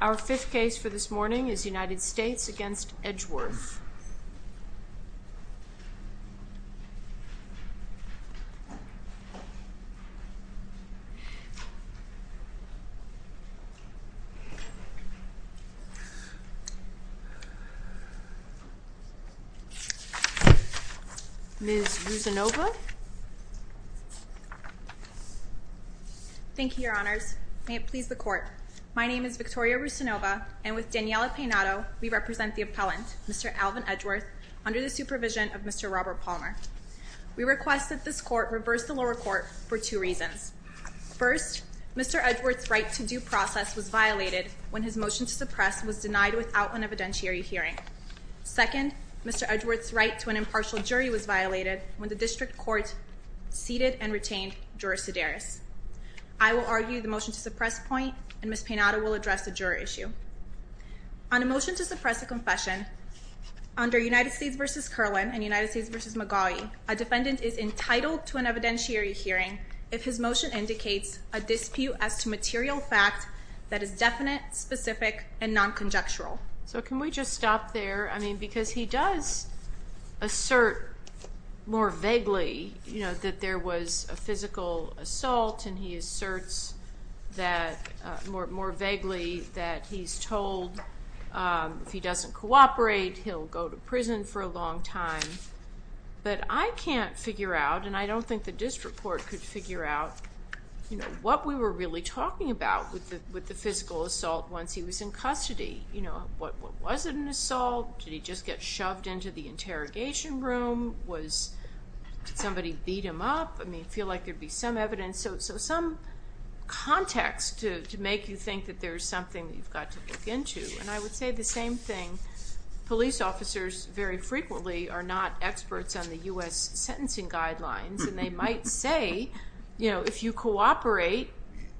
Our fifth case for this morning is United States against Edgeworth. Ms. Russinova. Thank you, Your Honors. May it please the Court. My name is Victoria Russinova, and with Daniela Peinado, we represent the appellant, Mr. Alvin Edgeworth, under the supervision of Mr. Robert Palmer. We request that this Court reverse the lower court for two reasons. First, Mr. Edgeworth's right to due process was violated when his motion to suppress was denied without an evidentiary hearing. Second, Mr. Edgeworth's right to an impartial jury was violated when the district court ceded and retained Juris Sedaris. I will argue the motion to suppress point, and Ms. Peinado will address the juror issue. On a motion to suppress a confession, under United States v. Kerlin and United States v. McGaughy, a defendant is entitled to an evidentiary hearing if his motion indicates a dispute as to material fact that is definite, specific, and non-conjectural. So can we just stop there? I mean, because he does assert more vaguely, you know, that there was a physical assault, and he asserts more vaguely that he's told if he doesn't cooperate, he'll go to prison for a long time. But I can't figure out, and I don't think the district court could figure out, you know, what we were really talking about with the physical assault once he was in custody. You know, was it an assault? Did he just get shoved into the interrogation room? Did somebody beat him up? I mean, I feel like there'd be some evidence, so some context to make you think that there's something that you've got to look into. And I would say the same thing. Police officers very frequently are not experts on the U.S. sentencing guidelines, and they might say, you know, if you cooperate,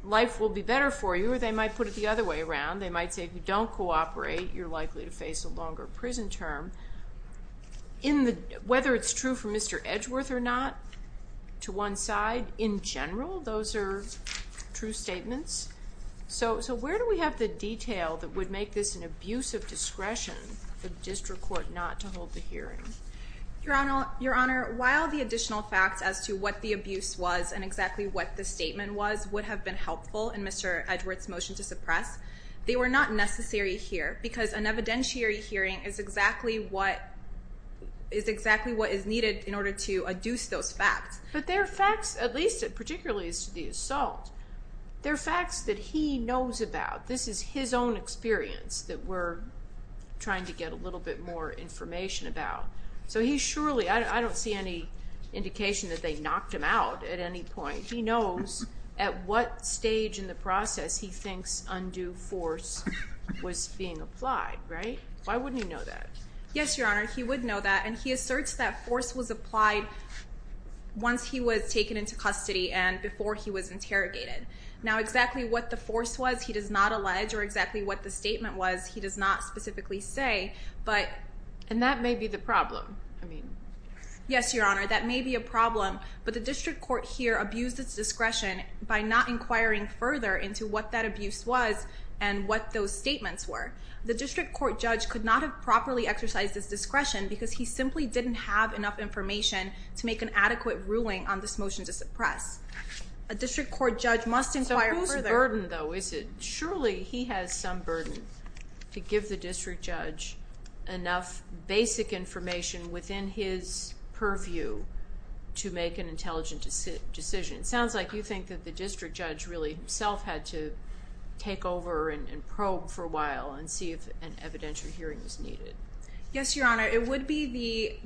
life will be better for you, or they might put it the other way around. They might say if you don't cooperate, you're likely to face a longer prison term. Whether it's true for Mr. Edgeworth or not, to one side, in general, those are true statements. So where do we have the detail that would make this an abuse of discretion for the district court not to hold the hearing? Your Honor, while the additional facts as to what the abuse was and exactly what the statement was would have been helpful in Mr. Edgeworth's motion to suppress, they were not necessary here because an evidentiary hearing is exactly what is needed in order to adduce those facts. But there are facts, at least particularly as to the assault, there are facts that he knows about. This is his own experience that we're trying to get a little bit more information about. So he surely, I don't see any indication that they knocked him out at any point. He knows at what stage in the process he thinks undue force was being applied, right? Why wouldn't he know that? Yes, Your Honor, he would know that. And he asserts that force was applied once he was taken into custody and before he was interrogated. Now, exactly what the force was, he does not allege, or exactly what the statement was, he does not specifically say. And that may be the problem. Yes, Your Honor, that may be a problem, but the district court here abused its discretion by not inquiring further into what that abuse was and what those statements were. The district court judge could not have properly exercised his discretion because he simply didn't have enough information to make an adequate ruling on this motion to suppress. A district court judge must inquire further. So whose burden, though, is it? Surely he has some burden to give the district judge enough basic information within his purview to make an intelligent decision. It sounds like you think that the district judge really himself had to take over and probe for a while Yes, Your Honor, it would be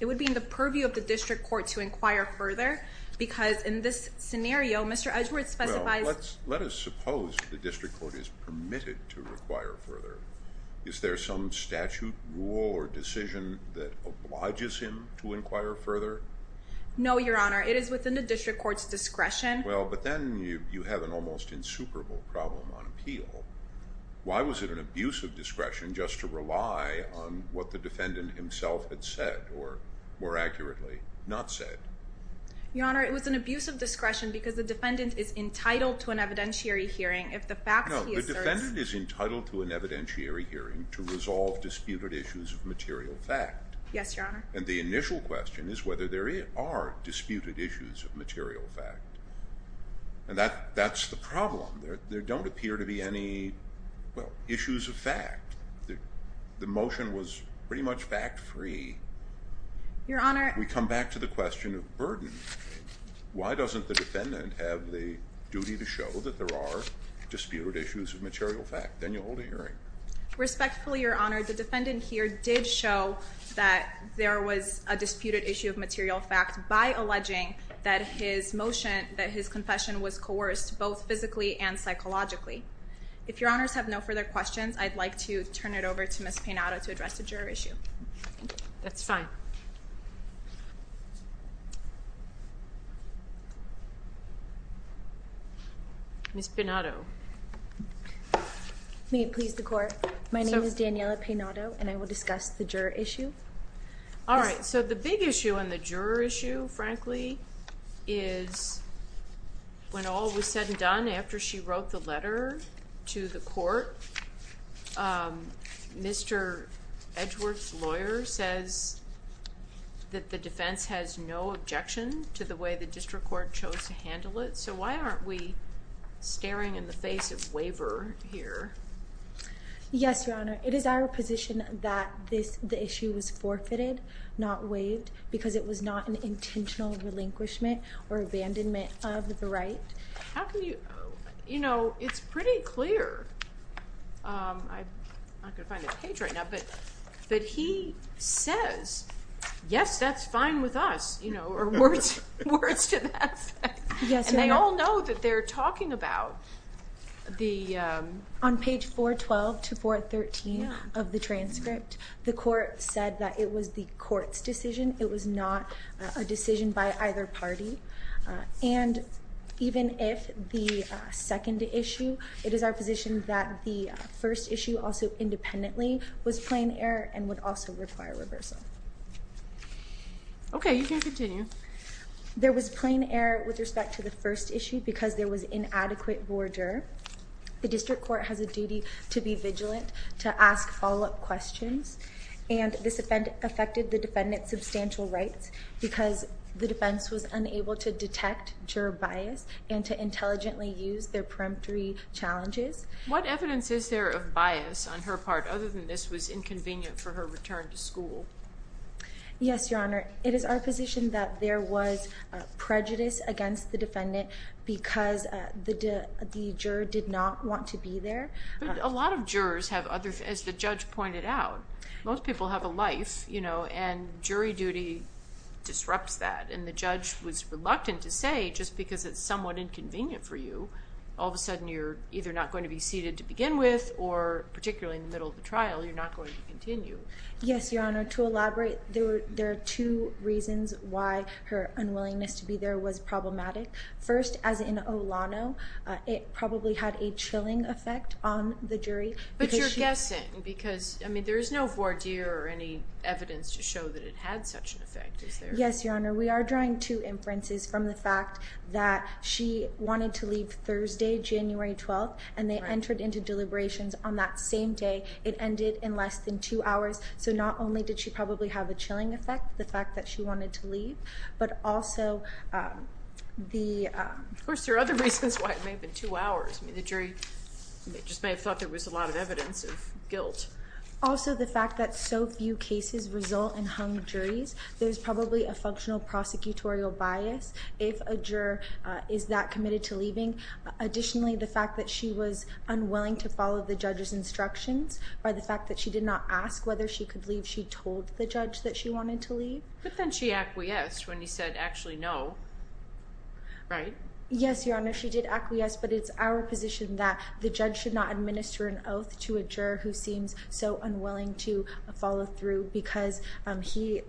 in the purview of the district court to inquire further because in this scenario, Mr. Edgeworth specifies Well, let us suppose the district court is permitted to inquire further. Is there some statute, rule, or decision that obliges him to inquire further? No, Your Honor, it is within the district court's discretion. Well, but then you have an almost insuperable problem on appeal. Why was it an abuse of discretion just to rely on what the defendant himself had said or, more accurately, not said? Your Honor, it was an abuse of discretion because the defendant is entitled to an evidentiary hearing if the facts he asserts No, the defendant is entitled to an evidentiary hearing to resolve disputed issues of material fact. Yes, Your Honor. And the initial question is whether there are disputed issues of material fact. And that's the problem. There don't appear to be any issues of fact. The motion was pretty much fact-free. Your Honor We come back to the question of burden. Why doesn't the defendant have the duty to show that there are disputed issues of material fact? Then you hold a hearing. Respectfully, Your Honor, the defendant here did show that there was a disputed issue of material fact by alleging that his motion, that his confession was coerced both physically and psychologically. If Your Honors have no further questions, I'd like to turn it over to Ms. Peinado to address the juror issue. That's fine. Ms. Peinado May it please the Court, my name is Daniela Peinado and I will discuss the juror issue. All right, so the big issue and the juror issue, frankly, is when all was said and done after she wrote the letter to the Court, Mr. Edgeworth's lawyer says that the defense has no objection to the way the district court chose to handle it. So why aren't we staring in the face of waiver here? Yes, Your Honor, it is our position that the issue was forfeited, not waived, because it was not an intentional relinquishment or abandonment of the right. How can you, you know, it's pretty clear, I'm not going to find that page right now, but he says, yes, that's fine with us, you know, or words to that effect. Yes, Your Honor. And they all know that they're talking about the... On page 412 to 413 of the transcript, the Court said that it was the Court's decision. It was not a decision by either party. And even if the second issue, it is our position that the first issue also independently was plain error and would also require reversal. Okay, you can continue. There was plain error with respect to the first issue because there was inadequate voir dire. The district court has a duty to be vigilant, to ask follow-up questions, and this affected the defendant's substantial rights because the defense was unable to detect juror bias and to intelligently use their peremptory challenges. What evidence is there of bias on her part other than this was inconvenient for her return to school? Yes, Your Honor. It is our position that there was prejudice against the defendant because the juror did not want to be there. But a lot of jurors have other... As the judge pointed out, most people have a life, you know, and jury duty disrupts that. And the judge was reluctant to say just because it's somewhat inconvenient for you, all of a sudden you're either not going to be seated to begin with or, particularly in the middle of the trial, you're not going to continue. Yes, Your Honor. To elaborate, there are two reasons why her unwillingness to be there was problematic. First, as in Olano, it probably had a chilling effect on the jury. But you're guessing because, I mean, there is no voir dire or any evidence to show that it had such an effect, is there? Yes, Your Honor. We are drawing two inferences from the fact that she wanted to leave Thursday, January 12th, and they entered into deliberations on that same day. It ended in less than two hours. So not only did she probably have a chilling effect, the fact that she wanted to leave, but also the... Of course, there are other reasons why it may have been two hours. I mean, the jury just may have thought there was a lot of evidence of guilt. Also the fact that so few cases result in hung juries. There's probably a functional prosecutorial bias if a juror is that committed to leaving. Additionally, the fact that she was unwilling to follow the judge's instructions by the fact that she did not ask whether she could leave. She told the judge that she wanted to leave. But then she acquiesced when he said actually no, right? Yes, Your Honor. She did acquiesce, but it's our position that the judge should not administer an oath to a juror who seems so unwilling to follow through because he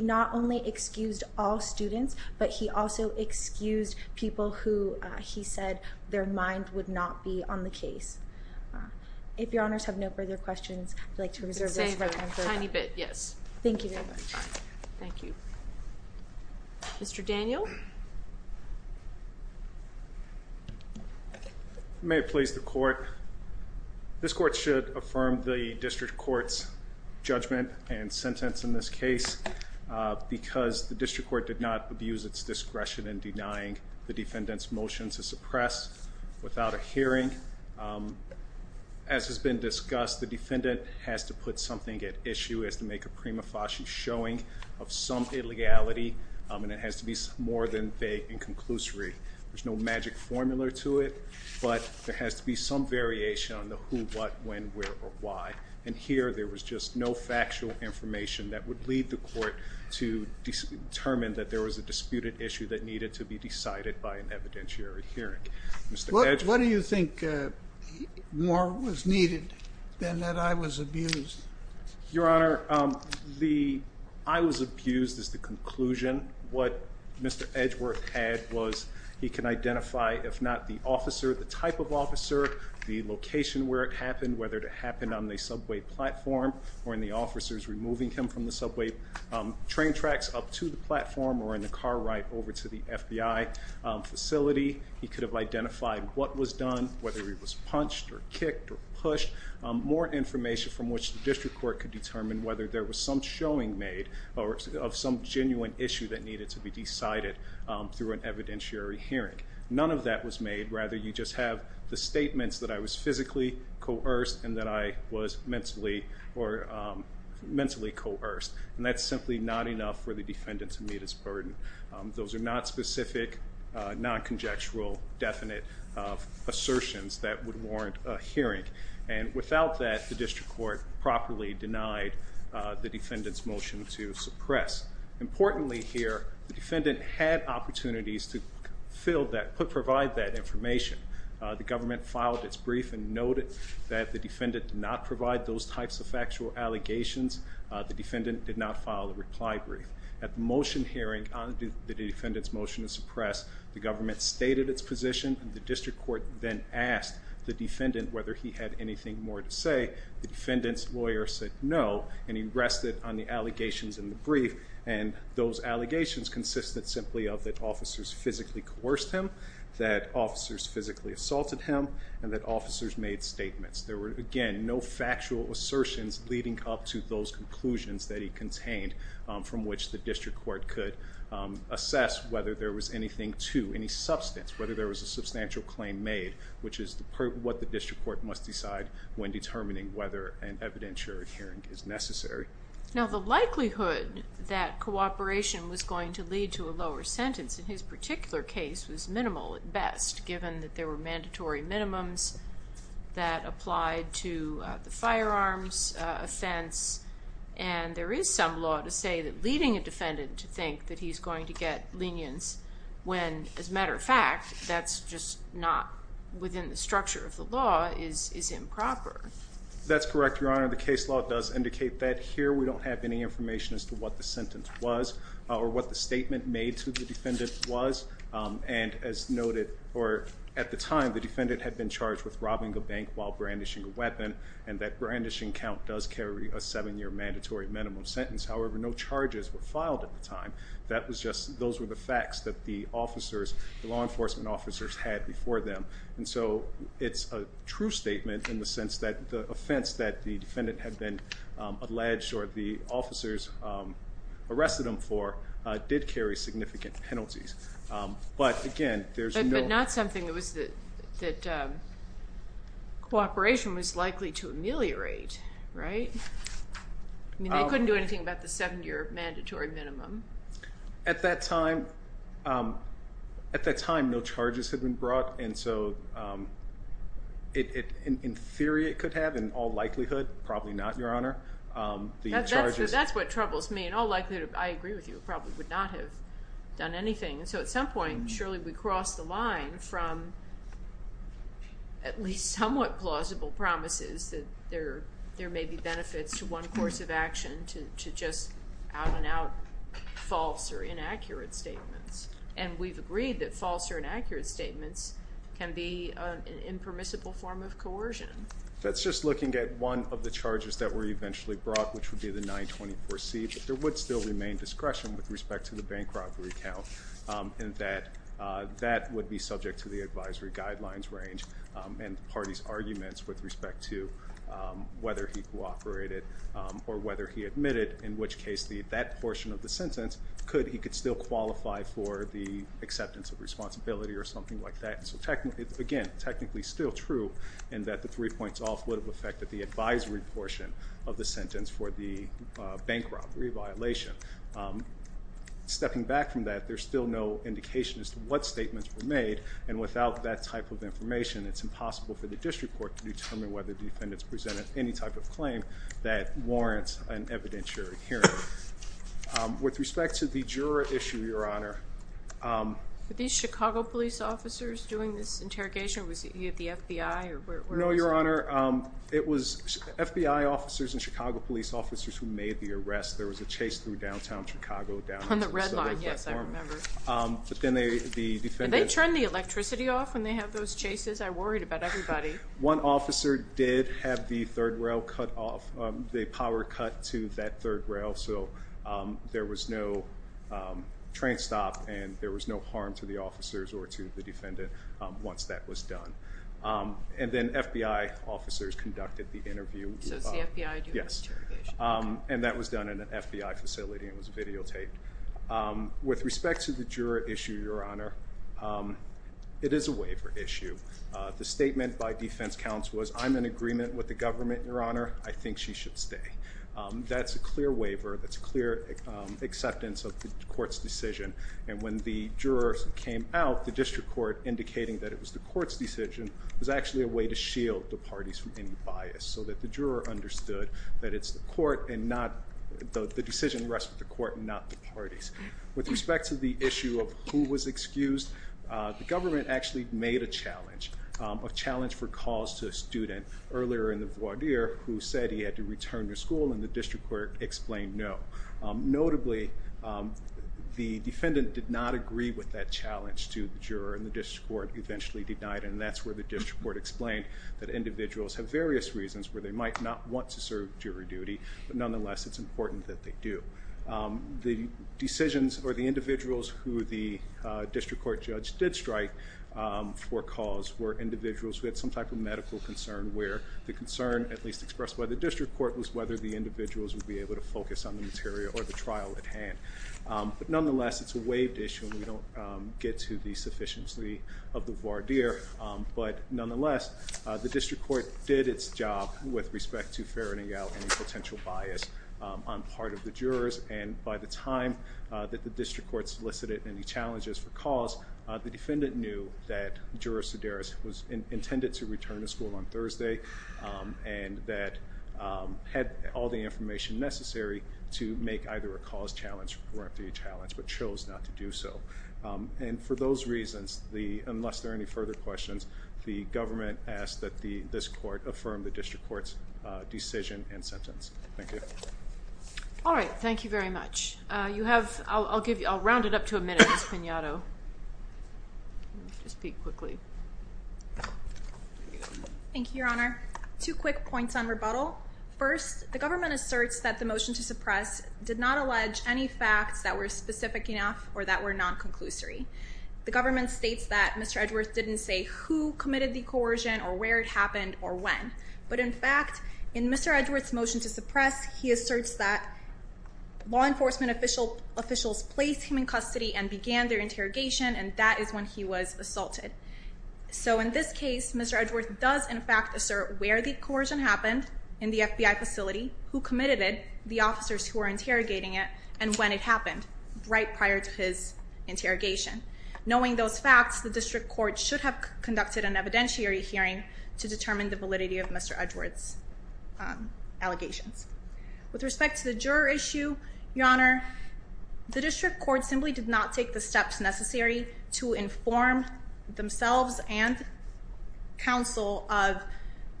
not only excused all students, but he also excused people who he said their mind would not be on the case. If Your Honors have no further questions, I'd like to reserve this right now. Tiny bit, yes. Thank you very much. Thank you. Mr. Daniel? May it please the Court. This Court should affirm the District Court's judgment and sentence in this case because the District Court did not abuse its discretion in denying the defendant's motion to suppress without a hearing. As has been discussed, the defendant has to put something at issue, has to make a prima facie showing of some illegality, and it has to be more than vague and conclusory. There's no magic formula to it, but there has to be some variation on the who, what, when, where, or why. And here there was just no factual information that would lead the Court to determine that there was a disputed issue that needed to be decided by an evidentiary hearing. Mr. Edgeworth? What do you think more was needed than that I was abused? Your Honor, the I was abused is the conclusion. What Mr. Edgeworth had was he can identify, if not the officer, the type of officer, the location where it happened, whether it happened on the subway platform or in the officers removing him from the subway train tracks up to the platform or in the car ride over to the FBI facility. He could have identified what was done, whether he was punched or kicked or pushed. More information from which the District Court could determine whether there was some showing made of some genuine issue that needed to be decided through an evidentiary hearing. None of that was made. Rather, you just have the statements that I was physically coerced and that I was mentally coerced, and that's simply not enough for the defendant to meet his burden. Those are not specific, non-conjectual, definite assertions that would warrant a hearing. And without that, the District Court properly denied the defendant's motion to suppress. Importantly here, the defendant had opportunities to provide that information. The government filed its brief and noted that the defendant did not provide those types of factual allegations. The defendant did not file a reply brief. At the motion hearing on the defendant's motion to suppress, the government stated its position, and the District Court then asked the defendant whether he had anything more to say. The defendant's lawyer said no, and he rested on the allegations in the brief, and those allegations consisted simply of that officers physically coerced him, that officers physically assaulted him, and that officers made statements. There were, again, no factual assertions leading up to those conclusions that he contained from which the District Court could assess whether there was anything to, any substance, whether there was a substantial claim made, which is what the District Court must decide when determining whether an evidentiary hearing is necessary. Now the likelihood that cooperation was going to lead to a lower sentence in his particular case was minimal at best, given that there were mandatory minimums that applied to the firearms offense, and there is some law to say that leading a defendant to think that he's going to get lenience when, as a matter of fact, that's just not within the structure of the law, is improper. That's correct, Your Honor. The case law does indicate that. Here we don't have any information as to what the sentence was or what the statement made to the defendant was, and as noted at the time, the defendant had been charged with robbing a bank while brandishing a weapon, and that brandishing count does carry a seven-year mandatory minimum sentence. However, no charges were filed at the time. That was just, those were the facts that the officers, the law enforcement officers had before them, and so it's a true statement in the sense that the offense that the defendant had been alleged or the officers arrested him for did carry significant penalties. But again, there's no... But not something that was, that cooperation was likely to ameliorate, right? I mean, they couldn't do anything about the seven-year mandatory minimum. At that time, no charges had been brought, and so in theory it could have. In all likelihood, probably not, Your Honor. That's what troubles me. In all likelihood, I agree with you, it probably would not have done anything. So at some point, surely we crossed the line from at least somewhat plausible promises that there may be benefits to one course of action to just out-and-out false or inaccurate statements, and we've agreed that false or inaccurate statements can be an impermissible form of coercion. That's just looking at one of the charges that were eventually brought, which would be the 924C, but there would still remain discretion with respect to the bank robbery count in that that would be subject to the advisory guidelines range and the party's arguments with respect to whether he cooperated or whether he admitted, in which case that portion of the sentence, he could still qualify for the acceptance of responsibility or something like that. So again, technically still true in that the three points off would have affected the advisory portion of the sentence for the bank robbery violation. Stepping back from that, there's still no indication as to what statements were made, and without that type of information, it's impossible for the district court to determine whether defendants presented any type of claim that warrants an evidentiary hearing. With respect to the juror issue, Your Honor. Were these Chicago police officers doing this interrogation? Was he at the FBI? No, Your Honor. It was FBI officers and Chicago police officers who made the arrest. There was a chase through downtown Chicago down to the Soviet platform. On the red line, yes, I remember. Did they turn the electricity off when they had those chases? I worried about everybody. One officer did have the power cut to that third rail, so there was no train stop and there was no harm to the officers or to the defendant once that was done. And then FBI officers conducted the interview. So it's the FBI doing the interrogation? Yes, and that was done in an FBI facility and was videotaped. With respect to the juror issue, Your Honor, it is a waiver issue. The statement by defense counsel was, I'm in agreement with the government, Your Honor. I think she should stay. That's a clear waiver. That's a clear acceptance of the court's decision. And when the jurors came out, the district court, indicating that it was the court's decision, was actually a way to shield the parties from any bias so that the juror understood that the decision rests with the court and not the parties. With respect to the issue of who was excused, the government actually made a challenge, a challenge for cause to a student earlier in the voir dire who said he had to return to school, and the district court explained no. Notably, the defendant did not agree with that challenge to the juror, and the district court eventually denied, and that's where the district court explained that individuals have various reasons where they might not want to serve jury duty, but nonetheless it's important that they do. The decisions or the individuals who the district court judge did strike for cause were individuals who had some type of medical concern where the concern, at least expressed by the district court, was whether the individuals would be able to focus on the material or the trial at hand. But nonetheless, it's a waived issue, and we don't get to the sufficiency of the voir dire, but nonetheless, the district court did its job with respect to ferreting out any potential bias on part of the jurors, and by the time that the district court solicited any challenges for cause, the defendant knew that Juror Sedaris was intended to return to school on Thursday and that had all the information necessary to make either a cause challenge or a free challenge, but chose not to do so. And for those reasons, unless there are any further questions, the government asks that this court affirm the district court's decision and sentence. Thank you. All right. Thank you very much. I'll round it up to a minute, Ms. Pinauto. Let me just speak quickly. Thank you, Your Honor. Two quick points on rebuttal. First, the government asserts that the motion to suppress did not allege any facts that were specific enough or that were non-conclusory. The government states that Mr. Edgeworth didn't say who committed the coercion or where it happened or when, but in fact in Mr. Edgeworth's motion to suppress, he asserts that law enforcement officials placed him in custody and began their interrogation, and that is when he was assaulted. So in this case, Mr. Edgeworth does in fact assert where the coercion happened in the FBI facility, who committed it, the officers who were interrogating it, and when it happened right prior to his interrogation. Knowing those facts, the district court should have conducted an evidentiary hearing to determine the validity of Mr. Edgeworth's allegations. With respect to the juror issue, Your Honor, the district court simply did not take the steps necessary to inform themselves and counsel of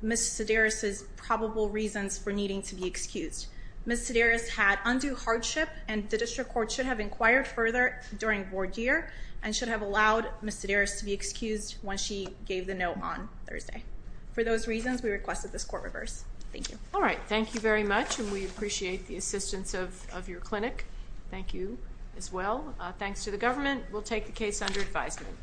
Ms. Sedaris' probable reasons for needing to be excused. Ms. Sedaris had undue hardship, and the district court should have inquired further during board year and should have allowed Ms. Sedaris to be excused when she gave the note on Thursday. For those reasons, we request that this court reverse. Thank you. All right, thank you very much, and we appreciate the assistance of your clinic. Thank you as well. Thanks to the government. We'll take the case under advisement.